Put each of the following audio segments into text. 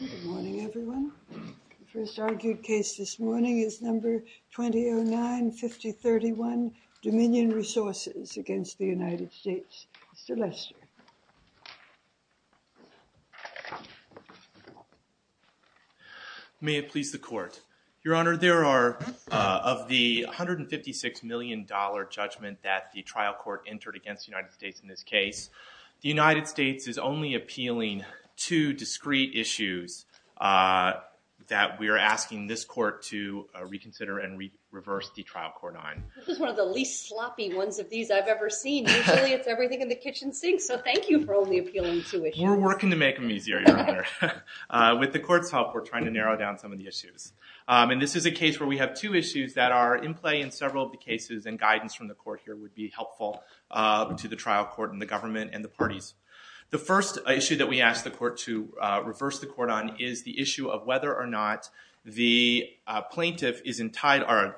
Good morning, everyone. The first argued case this morning is number 2009-5031, Dominion Resources against the United States. Mr. Lester. May it please the Court. Your Honor, there are, of the $156 million judgment that the trial court entered against the United States in this case, the United States is only appealing two discrete issues that we are asking this court to reconsider and reverse the trial court on. This is one of the least sloppy ones of these I've ever seen. Usually it's everything in the kitchen sink, so thank you for only appealing two issues. We're working to make them easier, Your Honor. With the court's help, we're trying to narrow down some of the issues. And this is a case where we have two issues that are in play in several of the cases, and guidance from the court here would be helpful to the trial court and the government and the parties. The first issue that we ask the court to reverse the court on is the issue of whether or not the plaintiff is entitled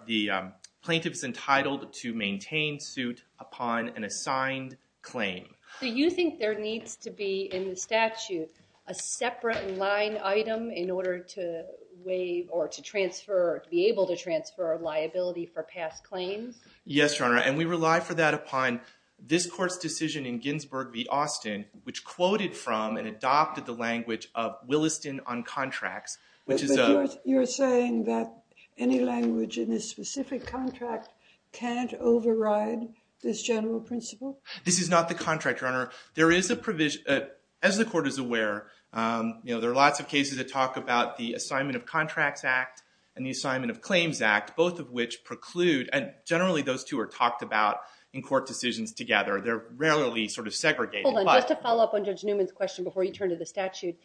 to maintain suit upon an assigned claim. Do you think there needs to be in the statute a separate line item in order to waive or to transfer, to be able to transfer liability for past claims? Yes, Your Honor, and we rely for that upon this court's decision in Ginsburg v. Austin, which quoted from and adopted the language of Williston on contracts, which is a- But you're saying that any language in this specific contract can't override this general principle? This is not the contract, Your Honor. There is a provision, as the court is aware, there are lots of cases that talk about the Assignment of Contracts Act and the Assignment of Claims Act, both of which preclude, and generally those two are talked about in court decisions together. They're rarely sort of segregated, but- Hold on, just to follow up on Judge Newman's question before you turn to the statute,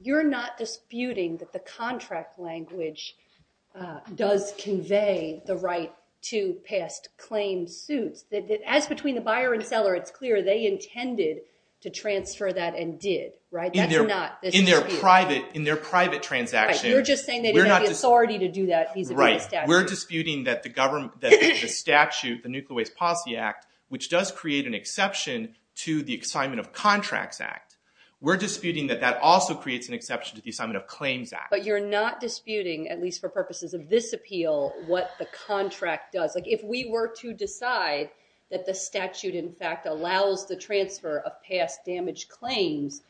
you're not disputing that the contract language does convey the right to past claim suits? As between the buyer and seller, it's clear they intended to transfer that and did, right? That's not- In their private transaction- Right, you're just saying they didn't have the authority to do that vis-a-vis the statute. Right, we're disputing that the statute, the Nuclear Waste Policy Act, which does create an exception to the Assignment of Contracts Act, we're disputing that that also creates an exception to the Assignment of Claims Act. But you're not disputing, at least for purposes of this appeal, what the contract does. If we were to decide that the statute, in fact, allows the transfer of past damaged claims,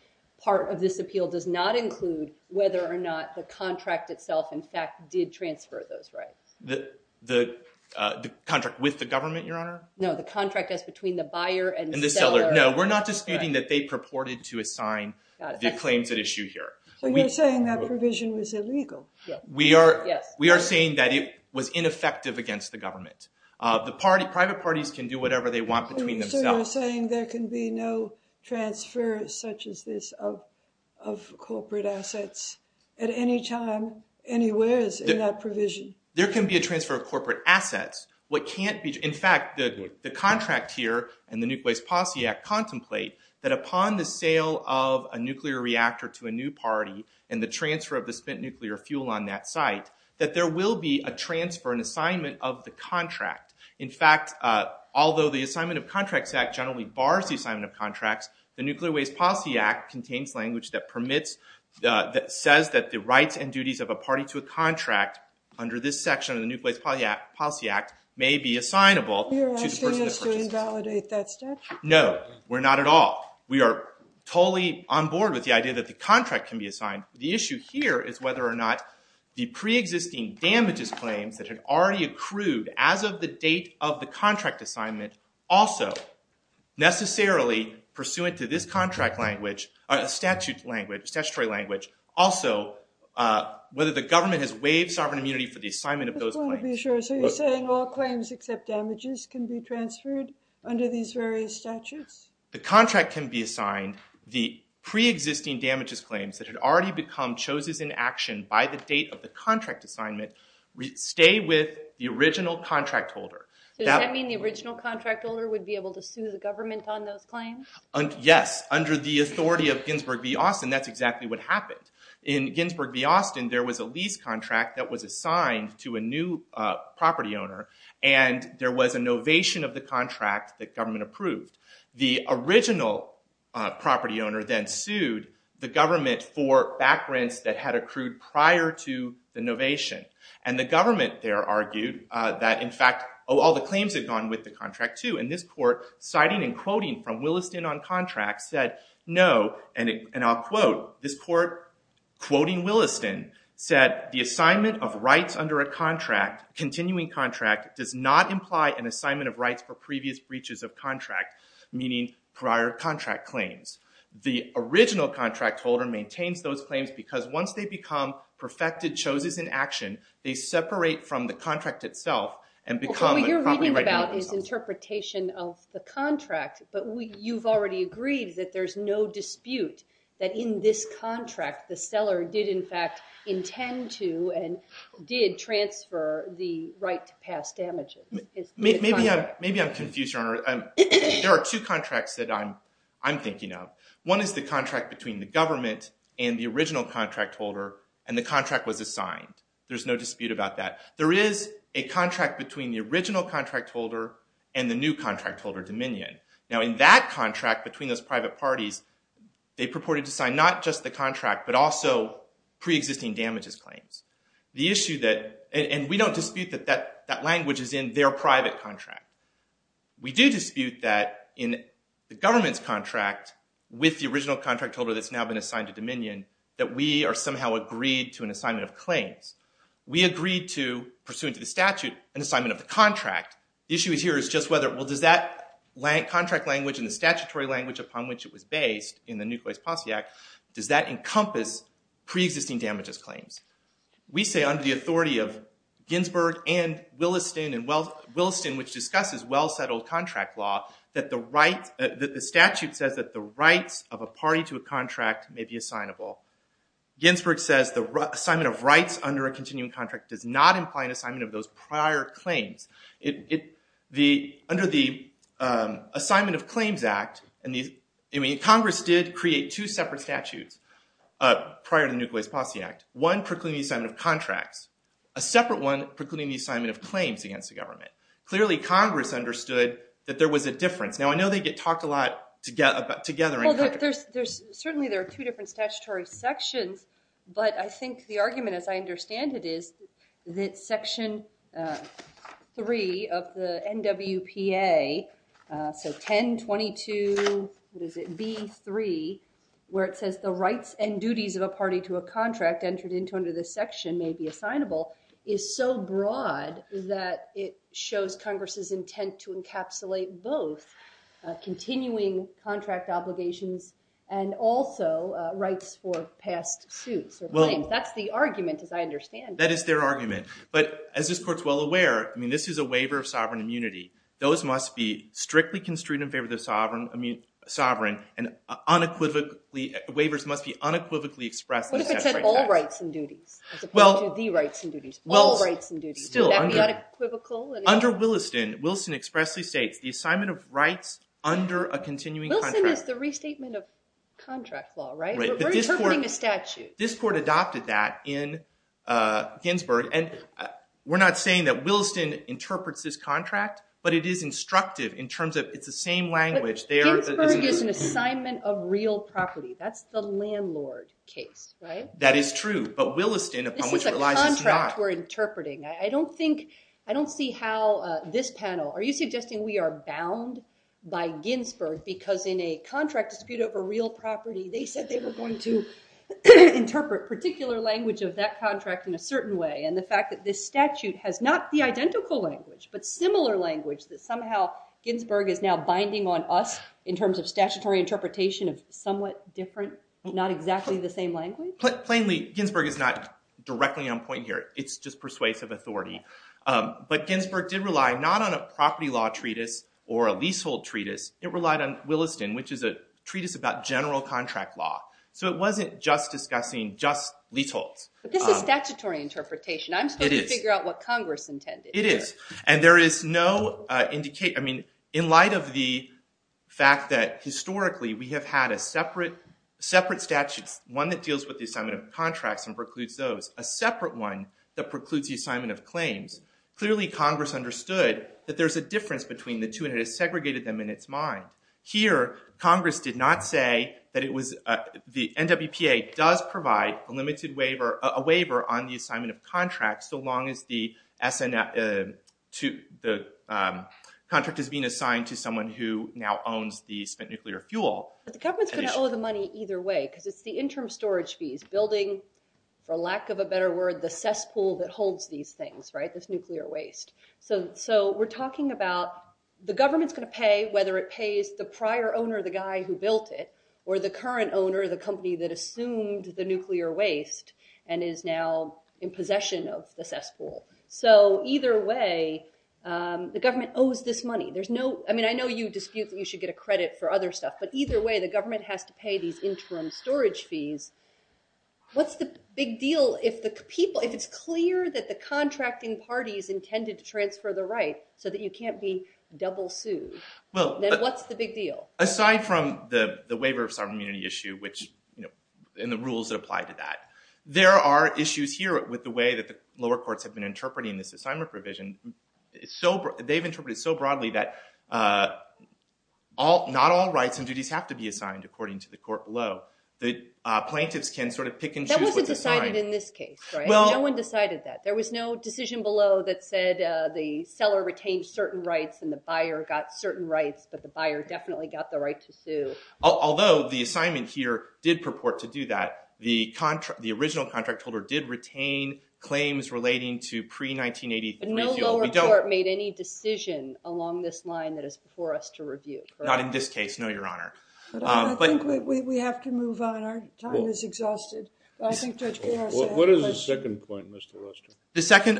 part of this appeal does not include whether or not the contract itself, in fact, did transfer those rights. The contract with the government, Your Honor? No, the contract as between the buyer and the seller. No, we're not disputing that they purported to assign the claims at issue here. So you're saying that provision was illegal? Yes. We are saying that it was ineffective against the government. The private parties can do whatever they want between themselves. So you're saying there can be no transfer, such as this, of corporate assets at any time, anywhere in that provision? There can be a transfer of corporate assets. In fact, the contract here and the Nuclear Waste Policy Act contemplate that upon the sale of a nuclear reactor to a new party and the transfer of the spent nuclear fuel on that site, that there will be a transfer, an assignment of the contract. In fact, although the Assignment of Contracts Act generally bars the assignment of contracts, the Nuclear Waste Policy Act contains language that says that the rights and duties of a party to a contract under this section of the Nuclear Waste Policy Act may be assignable to the person that purchases it. You're asking us to invalidate that statute? No, we're not at all. We are totally on board with the idea that the contract can be assigned. The issue here is whether or not the pre-existing damages claims that had already accrued as of the date of the contract assignment also necessarily, pursuant to this statute language, also whether the government has waived sovereign immunity for the assignment of those claims. I just want to be sure. So you're saying all claims except damages can be transferred under these various statutes? The contract can be assigned. The pre-existing damages claims that had already become choses in action by the date of the contract assignment stay with the original contract holder. Does that mean the original contract holder would be able to sue the government on those claims? Yes, under the authority of Ginsburg v. Austin, that's exactly what happened. In Ginsburg v. Austin, there was a lease contract that was assigned to a new property owner, and there was a novation of the contract that government approved. The original property owner then sued the government for back rents that had accrued prior to the novation. And the government there argued that, in fact, all the claims had gone with the contract too. And this court, citing and quoting from Williston on contracts, said, no, and I'll quote, this court, quoting Williston, said, the assignment of rights under a continuing contract does not imply an assignment of rights for previous breaches of contract, meaning prior contract claims. The original contract holder maintains those claims because once they become perfected choses in action, they separate from the contract itself and become a property right. What you're reading about is interpretation of the contract, but you've already agreed that there's no dispute that in this contract, the seller did, in fact, intend to and did transfer the right to pass damages. Maybe I'm confused, Your Honor. There are two contracts that I'm thinking of. One is the contract between the government and the original contract holder, and the contract was assigned. There's no dispute about that. There is a contract between the original contract holder and the new contract holder, Dominion. Now, in that contract between those private parties, they purported to sign not just the contract but also preexisting damages claims. And we don't dispute that that language is in their private contract. We do dispute that in the government's contract with the original contract holder that's now been assigned to Dominion that we are somehow agreed to an assignment of claims. We agreed to, pursuant to the statute, an assignment of the contract. The issue here is just whether, well, does that contract language and the statutory language upon which it was based in the Nucleus Posse Act, does that encompass preexisting damages claims? We say under the authority of Ginsburg and Williston, which discusses well-settled contract law, that the statute says that the rights of a party to a contract may be assignable. Ginsburg says the assignment of rights under a continuing contract does not imply an assignment of those prior claims. Under the Assignment of Claims Act, Congress did create two separate statutes prior to the Nucleus Posse Act. One precluding the assignment of contracts. A separate one precluding the assignment of claims against the government. Clearly, Congress understood that there was a difference. Now, I know they get talked a lot together in Congress. may be assignable is so broad that it shows Congress's intent to encapsulate both continuing contract obligations and also rights for past suits or claims. That's the argument, as I understand it. That is their argument. But as this Court's well aware, I mean, this is a waiver of sovereign immunity. Those must be strictly construed in favor of the sovereign. And unequivocally, waivers must be unequivocally expressed. What if it said all rights and duties as opposed to the rights and duties? All rights and duties. Would that be unequivocal? Under Williston, Williston expressly states the assignment of rights under a continuing contract. Williston is the restatement of contract law, right? We're interpreting a statute. This Court adopted that in Ginsburg. And we're not saying that Williston interprets this contract, but it is instructive in terms of it's the same language. Ginsburg is an assignment of real property. That's the landlord case, right? That is true. But Williston, upon which it relies, is not. This is a contract we're interpreting. I don't think, I don't see how this panel, are you suggesting we are bound by Ginsburg because in a contract dispute over real property, they said they were going to interpret particular language of that contract in a certain way. And the fact that this statute has not the identical language, but similar language, that somehow Ginsburg is now binding on us in terms of statutory interpretation of somewhat different, not exactly the same language? Plainly, Ginsburg is not directly on point here. It's just persuasive authority. But Ginsburg did rely not on a property law treatise or a leasehold treatise. It relied on Williston, which is a treatise about general contract law. So it wasn't just discussing just leaseholds. But this is statutory interpretation. I'm still trying to figure out what Congress intended. It is. And there is no indication, I mean, in light of the fact that historically we have had a separate statute, one that deals with the assignment of contracts and precludes those, a separate one that precludes the assignment of claims, clearly Congress understood that there's a difference between the two and it has segregated them in its mind. Here, Congress did not say that it was, the NWPA does provide a limited waiver, a waiver on the assignment of contracts, so long as the contract is being assigned to someone who now owns the spent nuclear fuel. But the government's going to owe the money either way because it's the interim storage fees, building, for lack of a better word, the cesspool that holds these things, right, this nuclear waste. So we're talking about the government's going to pay whether it pays the prior owner, the guy who built it, or the current owner, the company that assumed the nuclear waste and is now in possession of the cesspool. So either way, the government owes this money. There's no, I mean, I know you dispute that you should get a credit for other stuff. But either way, the government has to pay these interim storage fees. What's the big deal if the people, if it's clear that the contracting party is intended to transfer the right so that you can't be double sued, then what's the big deal? Aside from the waiver of sovereign immunity issue, which, and the rules that apply to that, there are issues here with the way that the lower courts have been interpreting this assignment provision. They've interpreted it so broadly that not all rights and duties have to be assigned according to the court law. So the plaintiffs can sort of pick and choose what to assign. That wasn't decided in this case, right? No one decided that. There was no decision below that said the seller retained certain rights and the buyer got certain rights, but the buyer definitely got the right to sue. Although the assignment here did purport to do that, the original contract holder did retain claims relating to pre-1983. No lower court made any decision along this line that is before us to review, correct? Not in this case, no, Your Honor. I think we have to move on. Our time is exhausted. What is the second point, Mr. Rustin? The second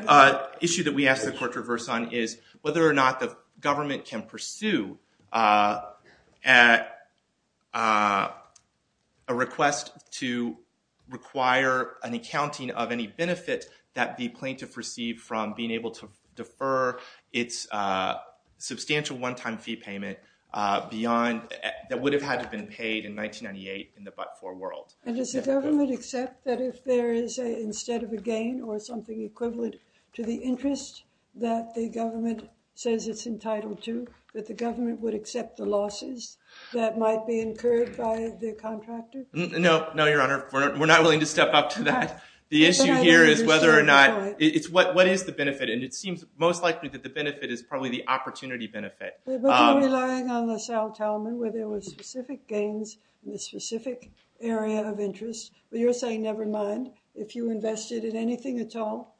issue that we ask the court to reverse on is whether or not the government can pursue a request to require an accounting of any benefit that the plaintiff received from being able to defer its substantial one-time fee payment that would have had to have been paid in 1998 in the but-for world. And does the government accept that if there is, instead of a gain or something equivalent to the interest that the government says it's entitled to, that the government would accept the losses that might be incurred by the contractor? No, Your Honor. We're not willing to step up to that. The issue here is whether or not, what is the benefit? And it seems most likely that the benefit is probably the opportunity benefit. But you're relying on the self-tellment where there were specific gains in a specific area of interest. But you're saying never mind if you invested in anything at all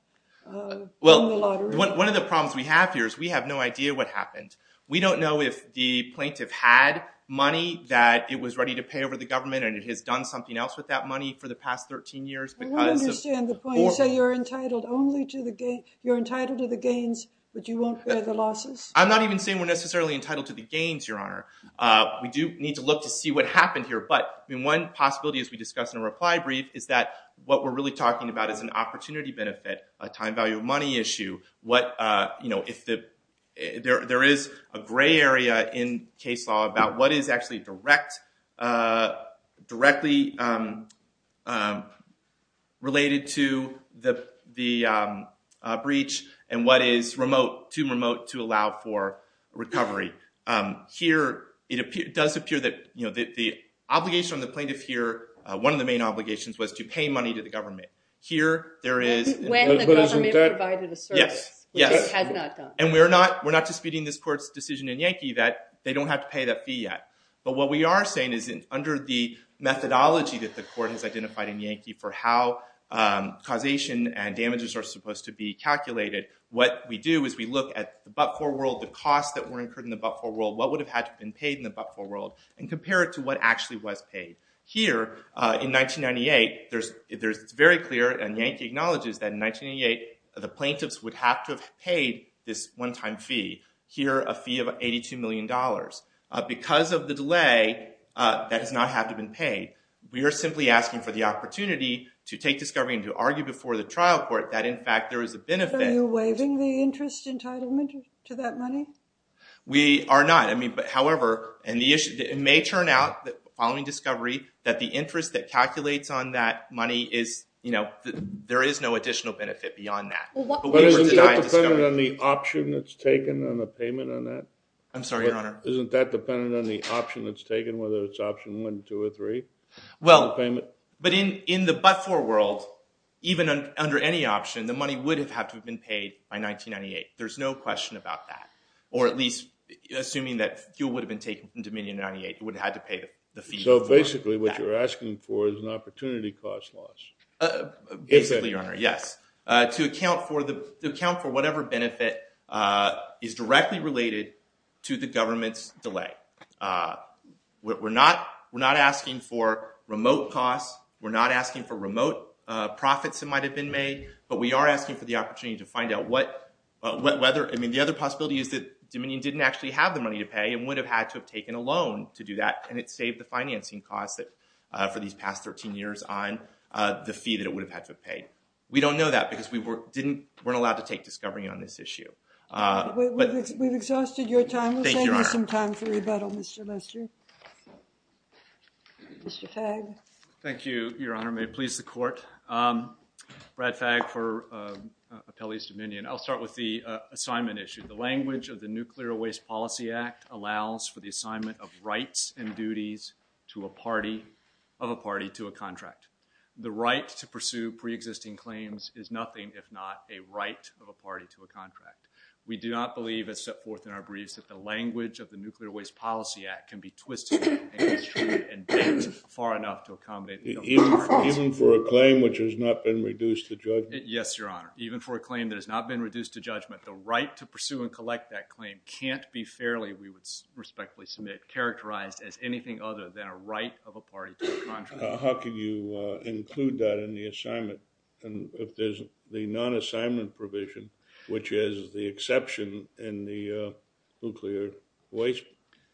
in the lottery? Well, one of the problems we have here is we have no idea what happened. We don't know if the plaintiff had money that it was ready to pay over the government and it has done something else with that money for the past 13 years. I don't understand the point. You say you're entitled to the gains, but you won't bear the losses? I'm not even saying we're necessarily entitled to the gains, Your Honor. We do need to look to see what happened here. But one possibility, as we discussed in a reply brief, is that what we're really talking about is an opportunity benefit, a time value of money issue. There is a gray area in case law about what is actually directly related to the breach and what is too remote to allow for recovery. Here, it does appear that the obligation on the plaintiff here, one of the main obligations was to pay money to the government. When the government provided a service, which it had not done. And we're not disputing this court's decision in Yankee that they don't have to pay that fee yet. But what we are saying is under the methodology that the court has identified in Yankee for how causation and damages are supposed to be calculated, what we do is we look at the but-for world, the costs that were incurred in the but-for world, what would have had to have been paid in the but-for world and compare it to what actually was paid. Here, in 1998, it's very clear and Yankee acknowledges that in 1998, the plaintiffs would have to have paid this one-time fee. Here, a fee of $82 million. Because of the delay, that does not have to have been paid. We are simply asking for the opportunity to take discovery and to argue before the trial court that in fact there is a benefit. Are you waiving the interest entitlement to that money? We are not. However, it may turn out following discovery that the interest that calculates on that money is, you know, there is no additional benefit beyond that. But isn't that dependent on the option that's taken on the payment on that? I'm sorry, Your Honor. Isn't that dependent on the option that's taken, whether it's option one, two, or three? Well, but in the but-for world, even under any option, the money would have had to have been paid by 1998. There's no question about that. Or at least assuming that fuel would have been taken from Dominion in 1998, it would have had to pay the fee. So basically what you're asking for is an opportunity cost loss. Basically, Your Honor, yes. To account for whatever benefit is directly related to the government's delay. We're not asking for remote costs. We're not asking for remote profits that might have been made. But we are asking for the opportunity to find out whether, I mean, the other possibility is that Dominion didn't actually have the money to pay and would have had to have taken a loan to do that. And it saved the financing costs for these past 13 years on the fee that it would have had to have paid. We don't know that because we weren't allowed to take discovery on this issue. We've exhausted your time. Thank you, Your Honor. We'll save you some time for rebuttal, Mr. Lester. Mr. Fagg. Thank you, Your Honor. May it please the Court. Brad Fagg for Appellee's Dominion. I'll start with the assignment issue. The language of the Nuclear Waste Policy Act allows for the assignment of rights and duties of a party to a contract. The right to pursue preexisting claims is nothing if not a right of a party to a contract. We do not believe, as set forth in our briefs, that the language of the Nuclear Waste Policy Act can be twisted and constrained and bent far enough to accommodate nuclear policy. Even for a claim which has not been reduced to judgment? Yes, Your Honor. Even for a claim that has not been reduced to judgment, the right to pursue and collect that claim can't be fairly, we would respectfully submit, characterized as anything other than a right of a party to a contract. How can you include that in the assignment if there's the non-assignment provision, which is the exception in the Nuclear Waste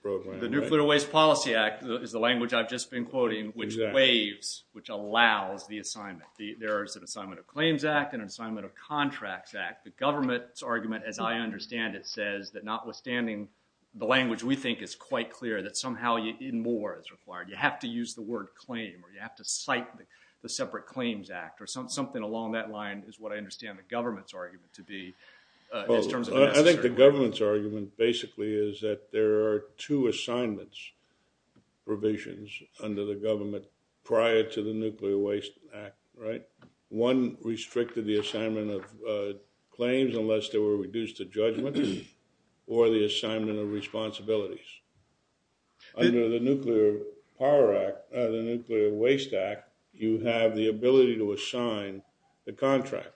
Program? The Nuclear Waste Policy Act is the language I've just been quoting, which waives, which allows, the assignment. There is an Assignment of Claims Act and an Assignment of Contracts Act. The government's argument, as I understand it, says that notwithstanding the language we think is quite clear, that somehow even more is required. You have to use the word claim or you have to cite the separate claims act or something along that line is what I understand the government's argument to be. I think the government's argument basically is that there are two assignments provisions under the government prior to the Nuclear Waste Act, right? One restricted the assignment of claims unless they were reduced to judgment or the assignment of responsibilities. Under the Nuclear Power Act, the Nuclear Waste Act, you have the ability to assign the contract.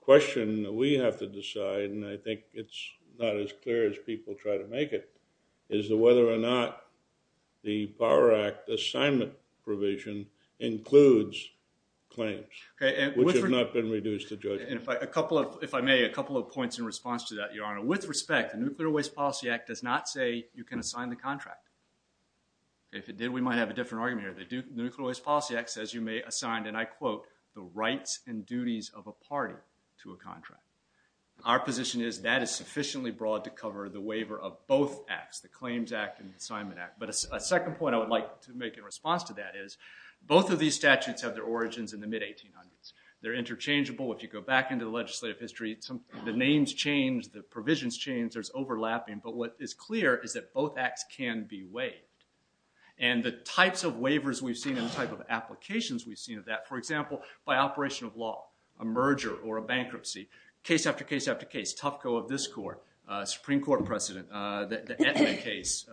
The question we have to decide, and I think it's not as clear as people try to make it, is whether or not the Power Act assignment provision includes claims, which have not been reduced to judgment. If I may, a couple of points in response to that, Your Honor. With respect, the Nuclear Waste Policy Act does not say you can assign the contract. If it did, we might have a different argument here. The Nuclear Waste Policy Act says you may assign, and I quote, the rights and duties of a party to a contract. Our position is that is sufficiently broad to cover the waiver of both acts, the Claims Act and the Assignment Act. But a second point I would like to make in response to that is both of these statutes have their origins in the mid-1800s. They're interchangeable. If you go back into the legislative history, the names change, the provisions change, there's overlapping. But what is clear is that both acts can be waived. And the types of waivers we've seen and the type of applications we've seen of that, for example, by operation of law, a merger or a bankruptcy, case after case after case, Tufco of this court, Supreme Court precedent, the Etna case,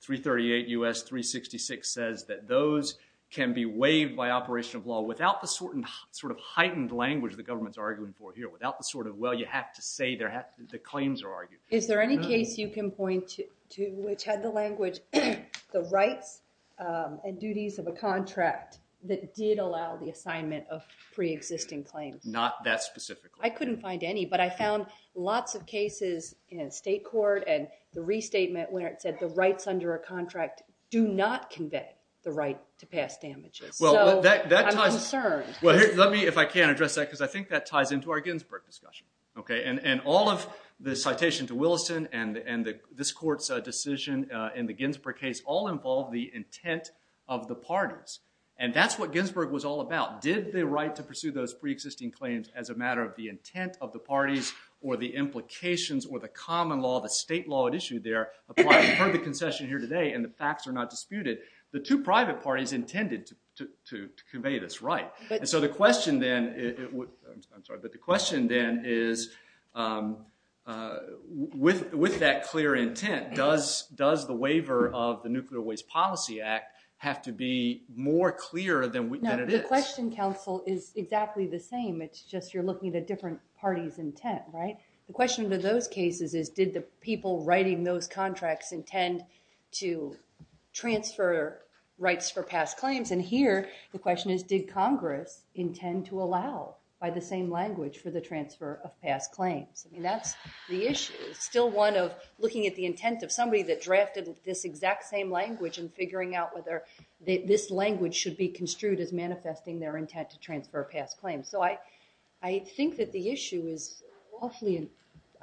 338 U.S. 366 says that those can be waived by operation of law without the sort of heightened language the government's arguing for here, without the sort of, well, you have to say the claims are argued. Is there any case you can point to which had the language, the rights and duties of a contract that did allow the assignment of pre-existing claims? Not that specific. I couldn't find any, but I found lots of cases in state court and the restatement where it said the rights under a contract do not convey the right to pass damages. So I'm concerned. Well, let me, if I can, address that because I think that ties into our Ginsburg discussion. Okay. And all of the citation to Williston and this court's decision in the Ginsburg case all involved the intent of the parties. And that's what Ginsburg was all about. Did the right to pursue those pre-existing claims as a matter of the intent of the parties or the implications or the common law, the state law at issue there, apply for the concession here today and the facts are not disputed? The two private parties intended to convey this right. So the question then is with that clear intent, does the waiver of the Nuclear Waste Policy Act have to be more clear than it is? No, the question, counsel, is exactly the same. It's just you're looking at a different party's intent, right? The question to those cases is did the people writing those contracts intend to transfer rights for past claims? And here the question is did Congress intend to allow by the same language for the transfer of past claims? I mean, that's the issue. It's still one of looking at the intent of somebody that drafted this exact same language and figuring out whether this language should be construed as manifesting their intent to transfer past claims. So I think that the issue is awfully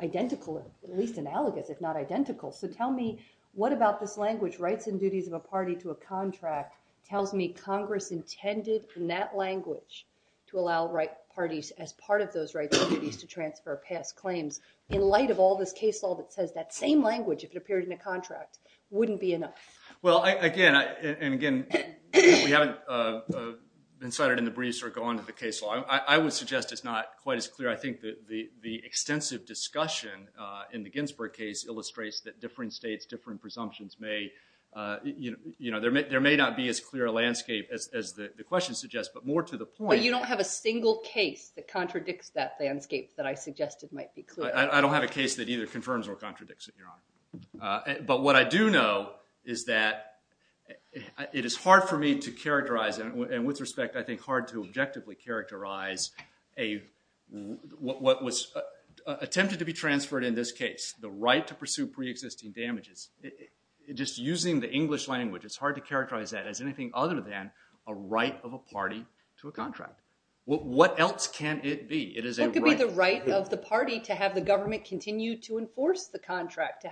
identical, at least analogous, if not identical. So tell me what about this language, rights and duties of a party to a contract, tells me Congress intended in that language to allow right parties as part of those rights and duties to transfer past claims, in light of all this case law that says that same language, if it appeared in a contract, wouldn't be enough. Well, again, and again, we haven't incited in the breeze or gone to the case law. I would suggest it's not quite as clear. I think the extensive discussion in the Ginsburg case illustrates that different states, different presumptions may, you know, there may not be as clear a landscape as the question suggests, but more to the point. But you don't have a single case that contradicts that landscape that I suggested might be clear. I don't have a case that either confirms or contradicts it, Your Honor. But what I do know is that it is hard for me to characterize, and with respect, I think hard to objectively characterize what was attempted to be transferred in this case, the right to pursue preexisting damages. Just using the English language, it's hard to characterize that as anything other than a right of a party to a contract. What else can it be? What could be the right of the party to have the government continue to enforce the contract?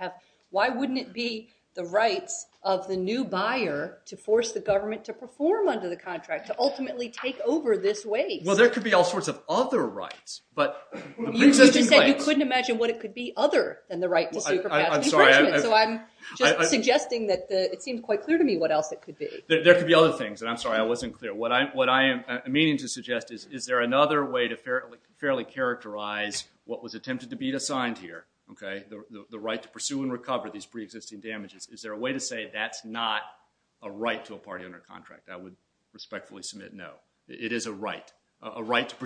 Why wouldn't it be the rights of the new buyer to force the government to perform under the contract, to ultimately take over this waste? Well, there could be all sorts of other rights. You just said you couldn't imagine what it could be other than the right to sue for past infringement. So I'm just suggesting that it seemed quite clear to me what else it could be. There could be other things, and I'm sorry I wasn't clear. What I am meaning to suggest is, is there another way to fairly characterize what was attempted to be assigned here, the right to pursue and recover these preexisting damages? Is there a way to say that's not a right to a party under contract? I would respectfully submit no. It is a right, a right to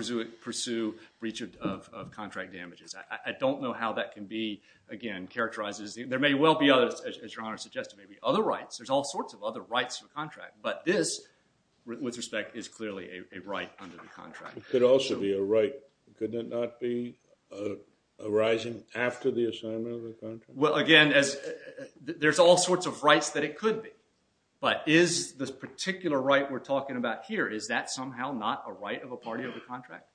pursue breach of contract damages. I don't know how that can be, again, characterized. There may well be others, as Your Honor suggested. There may be other rights. There's all sorts of other rights to a contract, but this, with respect, is clearly a right under the contract. It could also be a right. Could it not be arising after the assignment of the contract? Well, again, there's all sorts of rights that it could be, but is this particular right we're talking about here, is that somehow not a right of a party under contract?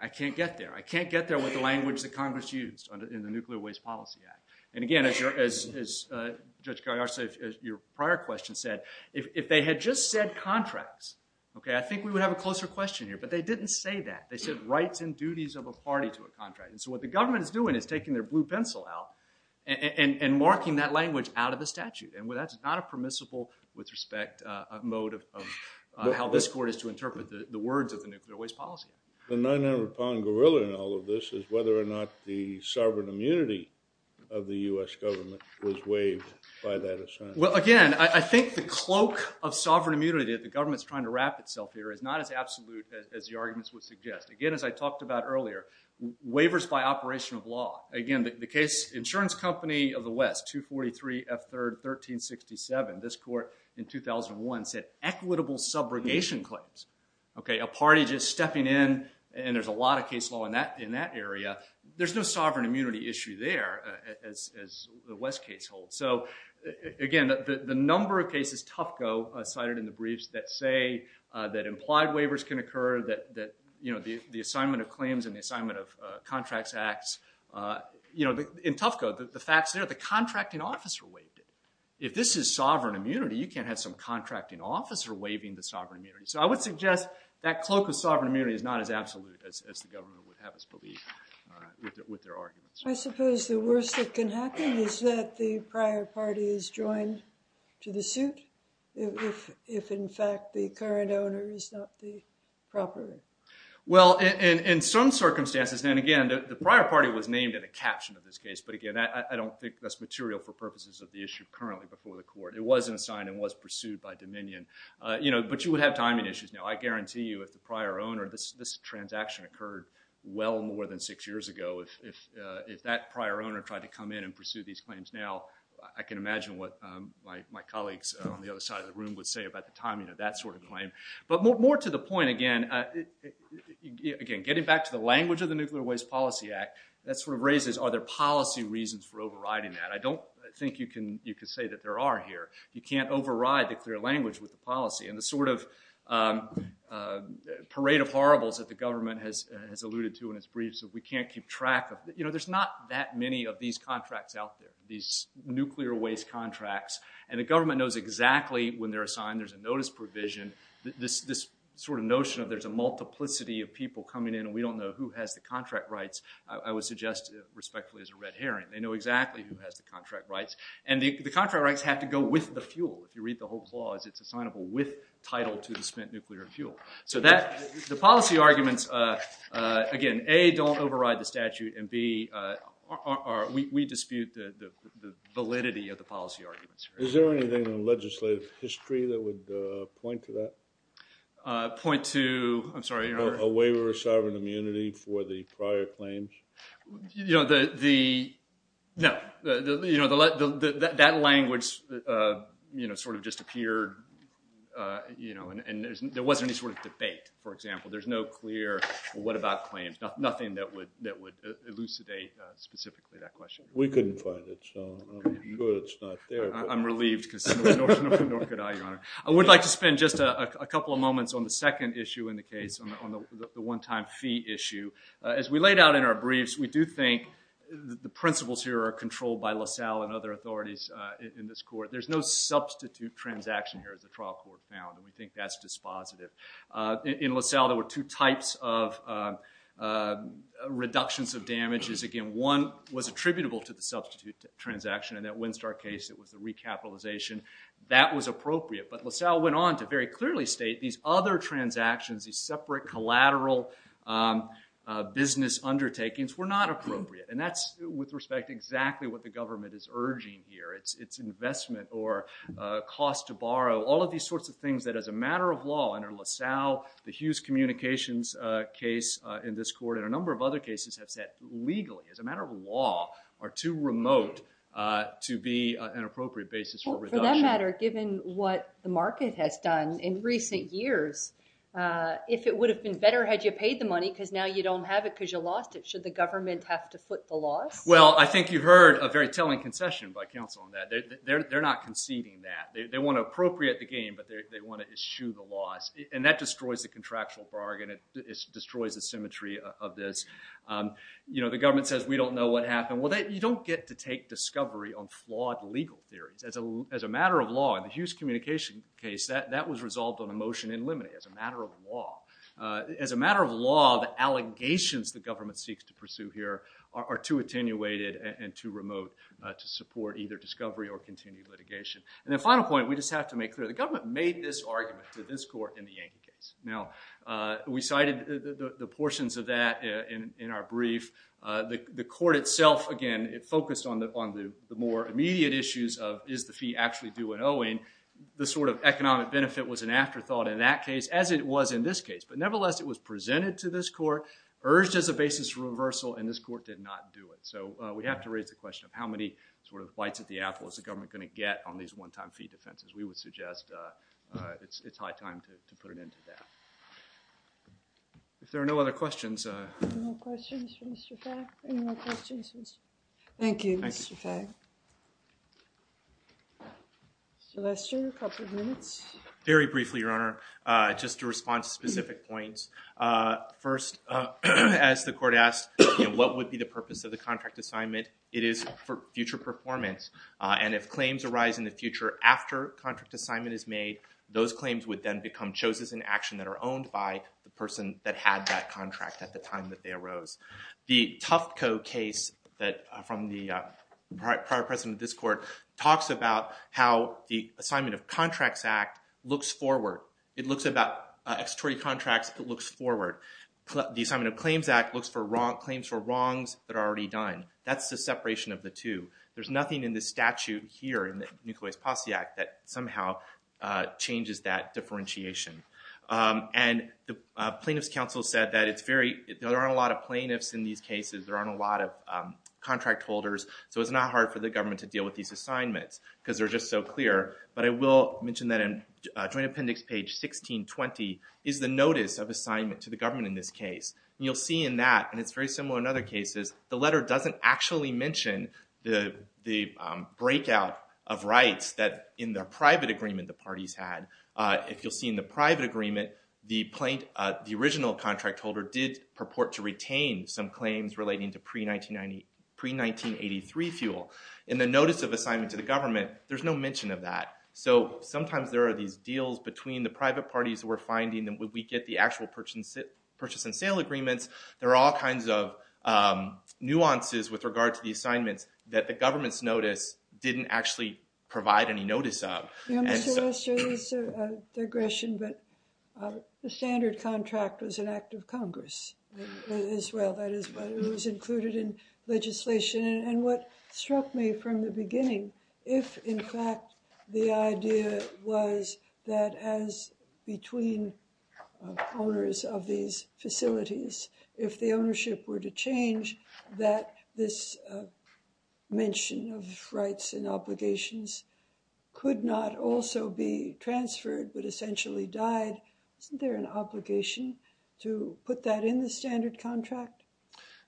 I can't get there. I can't get there with the language that Congress used in the Nuclear Waste Policy Act. And again, as Judge Galliard said, as your prior question said, if they had just said contracts, okay, I think we would have a closer question here. But they didn't say that. They said rights and duties of a party to a contract. And so what the government is doing is taking their blue pencil out and marking that language out of the statute. And that's not a permissible, with respect, mode of how this court is to interpret the words of the Nuclear Waste Policy. The 900-pound gorilla in all of this is whether or not the sovereign immunity of the U.S. government was waived by that assignment. Well, again, I think the cloak of sovereign immunity that the government is trying to wrap itself here is not as absolute as the arguments would suggest. Again, as I talked about earlier, waivers by operation of law. Again, the case Insurance Company of the West, 243 F. 3rd, 1367, this court in 2001 said equitable subrogation claims. Okay, a party just stepping in, and there's a lot of case law in that area. There's no sovereign immunity issue there, as the West case holds. So, again, the number of cases Tufco cited in the briefs that say that implied waivers can occur, that, you know, the assignment of claims and the assignment of contracts acts. You know, in Tufco, the facts there, the contracting officer waived it. If this is sovereign immunity, you can't have some contracting officer waiving the sovereign immunity. So I would suggest that cloak of sovereign immunity is not as absolute as the government would have us believe with their arguments. I suppose the worst that can happen is that the prior party is joined to the suit if, in fact, the current owner is not the property. Well, in some circumstances, then, again, the prior party was named in a caption of this case. But, again, I don't think that's material for purposes of the issue currently before the court. It wasn't assigned and was pursued by Dominion. You know, but you would have timing issues now. I guarantee you if the prior owner, this transaction occurred well more than six years ago. If that prior owner tried to come in and pursue these claims now, I can imagine what my colleagues on the other side of the room would say about the timing of that sort of claim. But more to the point, again, again, getting back to the language of the Nuclear Waste Policy Act, that sort of raises, are there policy reasons for overriding that? I don't think you can say that there are here. You can't override the clear language with the policy. And the sort of parade of horribles that the government has alluded to in its briefs that we can't keep track of, you know, there's not that many of these contracts out there, these nuclear waste contracts. And the government knows exactly when they're assigned. There's a notice provision. This sort of notion of there's a multiplicity of people coming in and we don't know who has the contract rights, I would suggest respectfully is a red herring. They know exactly who has the contract rights. And the contract rights have to go with the fuel. If you read the whole clause, it's assignable with title to the spent nuclear fuel. So the policy arguments, again, A, don't override the statute, and B, we dispute the validity of the policy arguments. Is there anything in legislative history that would point to that? Point to, I'm sorry? A waiver of sovereign immunity for the prior claims? No. That language sort of just appeared, you know, and there wasn't any sort of debate, for example. There's no clear what about claims, nothing that would elucidate specifically that question. We couldn't find it, so I'm glad it's not there. I'm relieved because nor could I, Your Honor. I would like to spend just a couple of moments on the second issue in the case, on the one-time fee issue. As we laid out in our briefs, we do think the principles here are controlled by LaSalle and other authorities in this court. There's no substitute transaction here, as the trial court found, and we think that's dispositive. In LaSalle, there were two types of reductions of damages. Again, one was attributable to the substitute transaction. In that Windstar case, it was the recapitalization. That was appropriate, but LaSalle went on to very clearly state these other transactions, these separate collateral business undertakings, were not appropriate, and that's with respect to exactly what the government is urging here. It's investment or cost to borrow, all of these sorts of things that as a matter of law under LaSalle, the Hughes Communications case in this court and a number of other cases have said legally, as a matter of law, are too remote to be an appropriate basis for reduction. It doesn't matter, given what the market has done in recent years, if it would have been better had you paid the money because now you don't have it because you lost it. Should the government have to foot the loss? Well, I think you heard a very telling concession by counsel on that. They're not conceding that. They want to appropriate the gain, but they want to eschew the loss, and that destroys the contractual bargain. It destroys the symmetry of this. You know, the government says, we don't know what happened. Well, you don't get to take discovery on flawed legal theories. As a matter of law, in the Hughes Communications case, that was resolved on a motion in limine as a matter of law. As a matter of law, the allegations the government seeks to pursue here are too attenuated and too remote to support either discovery or continued litigation. And the final point, we just have to make clear, the government made this argument to this court in the Yank case. Now, we cited the portions of that in our brief. The court itself, again, it focused on the more immediate issues of, is the fee actually due at owing? The sort of economic benefit was an afterthought in that case, as it was in this case. But nevertheless, it was presented to this court, urged as a basis for reversal, and this court did not do it. So we have to raise the question of how many sort of bites at the apple is the government going to get on these one-time fee defenses? We would suggest it's high time to put an end to that. If there are no other questions. Any more questions for Mr. Fagg? Any more questions? Thank you, Mr. Fagg. Celestia, a couple of minutes. Very briefly, Your Honor, just to respond to specific points. First, as the court asked, what would be the purpose of the contract assignment, it is for future performance. And if claims arise in the future after a contract assignment is made, those claims would then become chosen in action that are owned by the person that had that contract at the time that they arose. The Tufco case from the prior president of this court talks about how the Assignment of Contracts Act looks forward. It looks about extratory contracts. It looks forward. The Assignment of Claims Act looks for claims for wrongs that are already done. That's the separation of the two. There's nothing in the statute here in the Nucleus Posse Act that somehow changes that differentiation. And the Plaintiffs' Council said that there aren't a lot of plaintiffs in these cases, there aren't a lot of contract holders, so it's not hard for the government to deal with these assignments because they're just so clear. But I will mention that in Joint Appendix page 1620 is the notice of assignment to the government in this case. And you'll see in that, and it's very similar in other cases, the letter doesn't actually mention the breakout of rights that in the private agreement the parties had. If you'll see in the private agreement, the original contract holder did purport to retain some claims relating to pre-1983 fuel. In the notice of assignment to the government, there's no mention of that. So sometimes there are these deals between the private parties who are finding that when we get the actual purchase and sale agreements, there are all kinds of nuances with regard to the assignments that the government's notice didn't actually provide any notice of. You know, Mr. Wester, this is a digression, but the standard contract was an act of Congress as well. It was included in legislation. And what struck me from the beginning, if in fact the idea was that as between owners of these facilities, if the ownership were to change, that this mention of rights and obligations could not also be transferred but essentially died, isn't there an obligation to put that in the standard contract?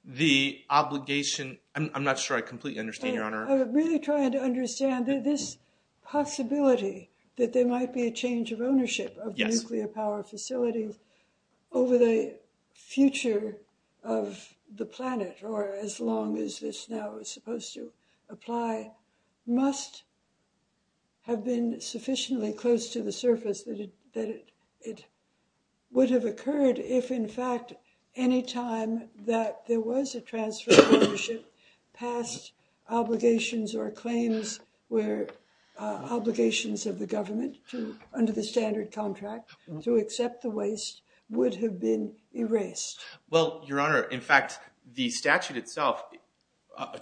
The obligation, I'm not sure I completely understand, Your Honor. I'm really trying to understand this possibility that there might be a change of ownership of nuclear power facilities over the future of the planet, or as long as this now is supposed to apply, must have been sufficiently close to the surface that it would have occurred if in fact any time that there was a transfer of ownership, past obligations or claims were obligations of the government under the standard contract to accept the waste would have been erased. Well, Your Honor, in fact, the statute itself,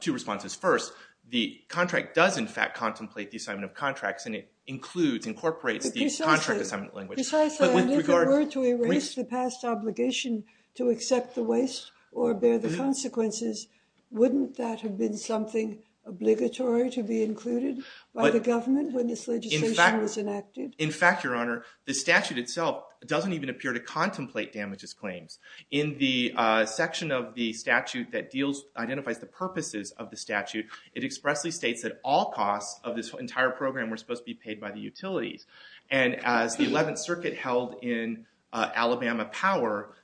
two responses. First, the contract does in fact contemplate the assignment of contracts and it includes, incorporates the contract assignment language. But precisely, if it were to erase the past obligation to accept the waste or bear the consequences, wouldn't that have been something obligatory to be included by the government when this legislation was enacted? In fact, Your Honor, the statute itself doesn't even appear to contemplate damages claims. In the section of the statute that deals, identifies the purposes of the statute, it expressly states that all costs of this entire program were supposed to be paid by the utilities. And as the 11th Circuit held in Alabama Power,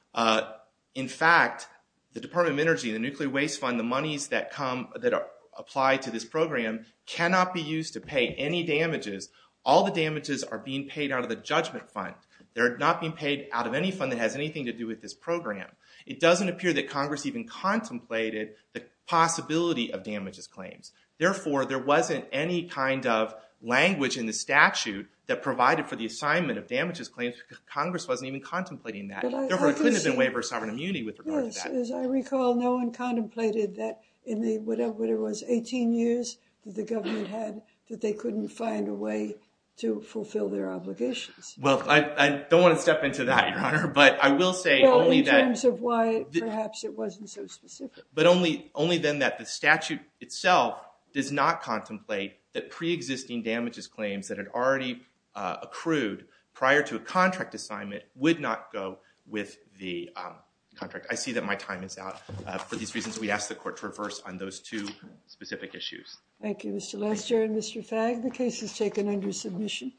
in fact, the Department of Energy, the Nuclear Waste Fund, the monies that come, that apply to this program cannot be used to pay any damages. All the damages are being paid out of the judgment fund. They're not being paid out of any fund that has anything to do with this program. It doesn't appear that Congress even contemplated the possibility of damages claims. Therefore, there wasn't any kind of language in the statute that provided for the assignment of damages claims. Congress wasn't even contemplating that. Therefore, it couldn't have been waiver of sovereign immunity with regard to that. As I recall, no one contemplated that in whatever it was, 18 years that the government had, that they couldn't find a way to fulfill their obligations. Well, I don't want to step into that, Your Honor, but I will say only that Well, in terms of why perhaps it wasn't so specific. But only then that the statute itself does not contemplate that preexisting damages claims that had already accrued prior to a contract assignment would not go with the contract. I see that my time is out for these reasons. We ask the court to reverse on those two specific issues. Thank you, Mr. Lester and Mr. Fagg. The case is taken under submission.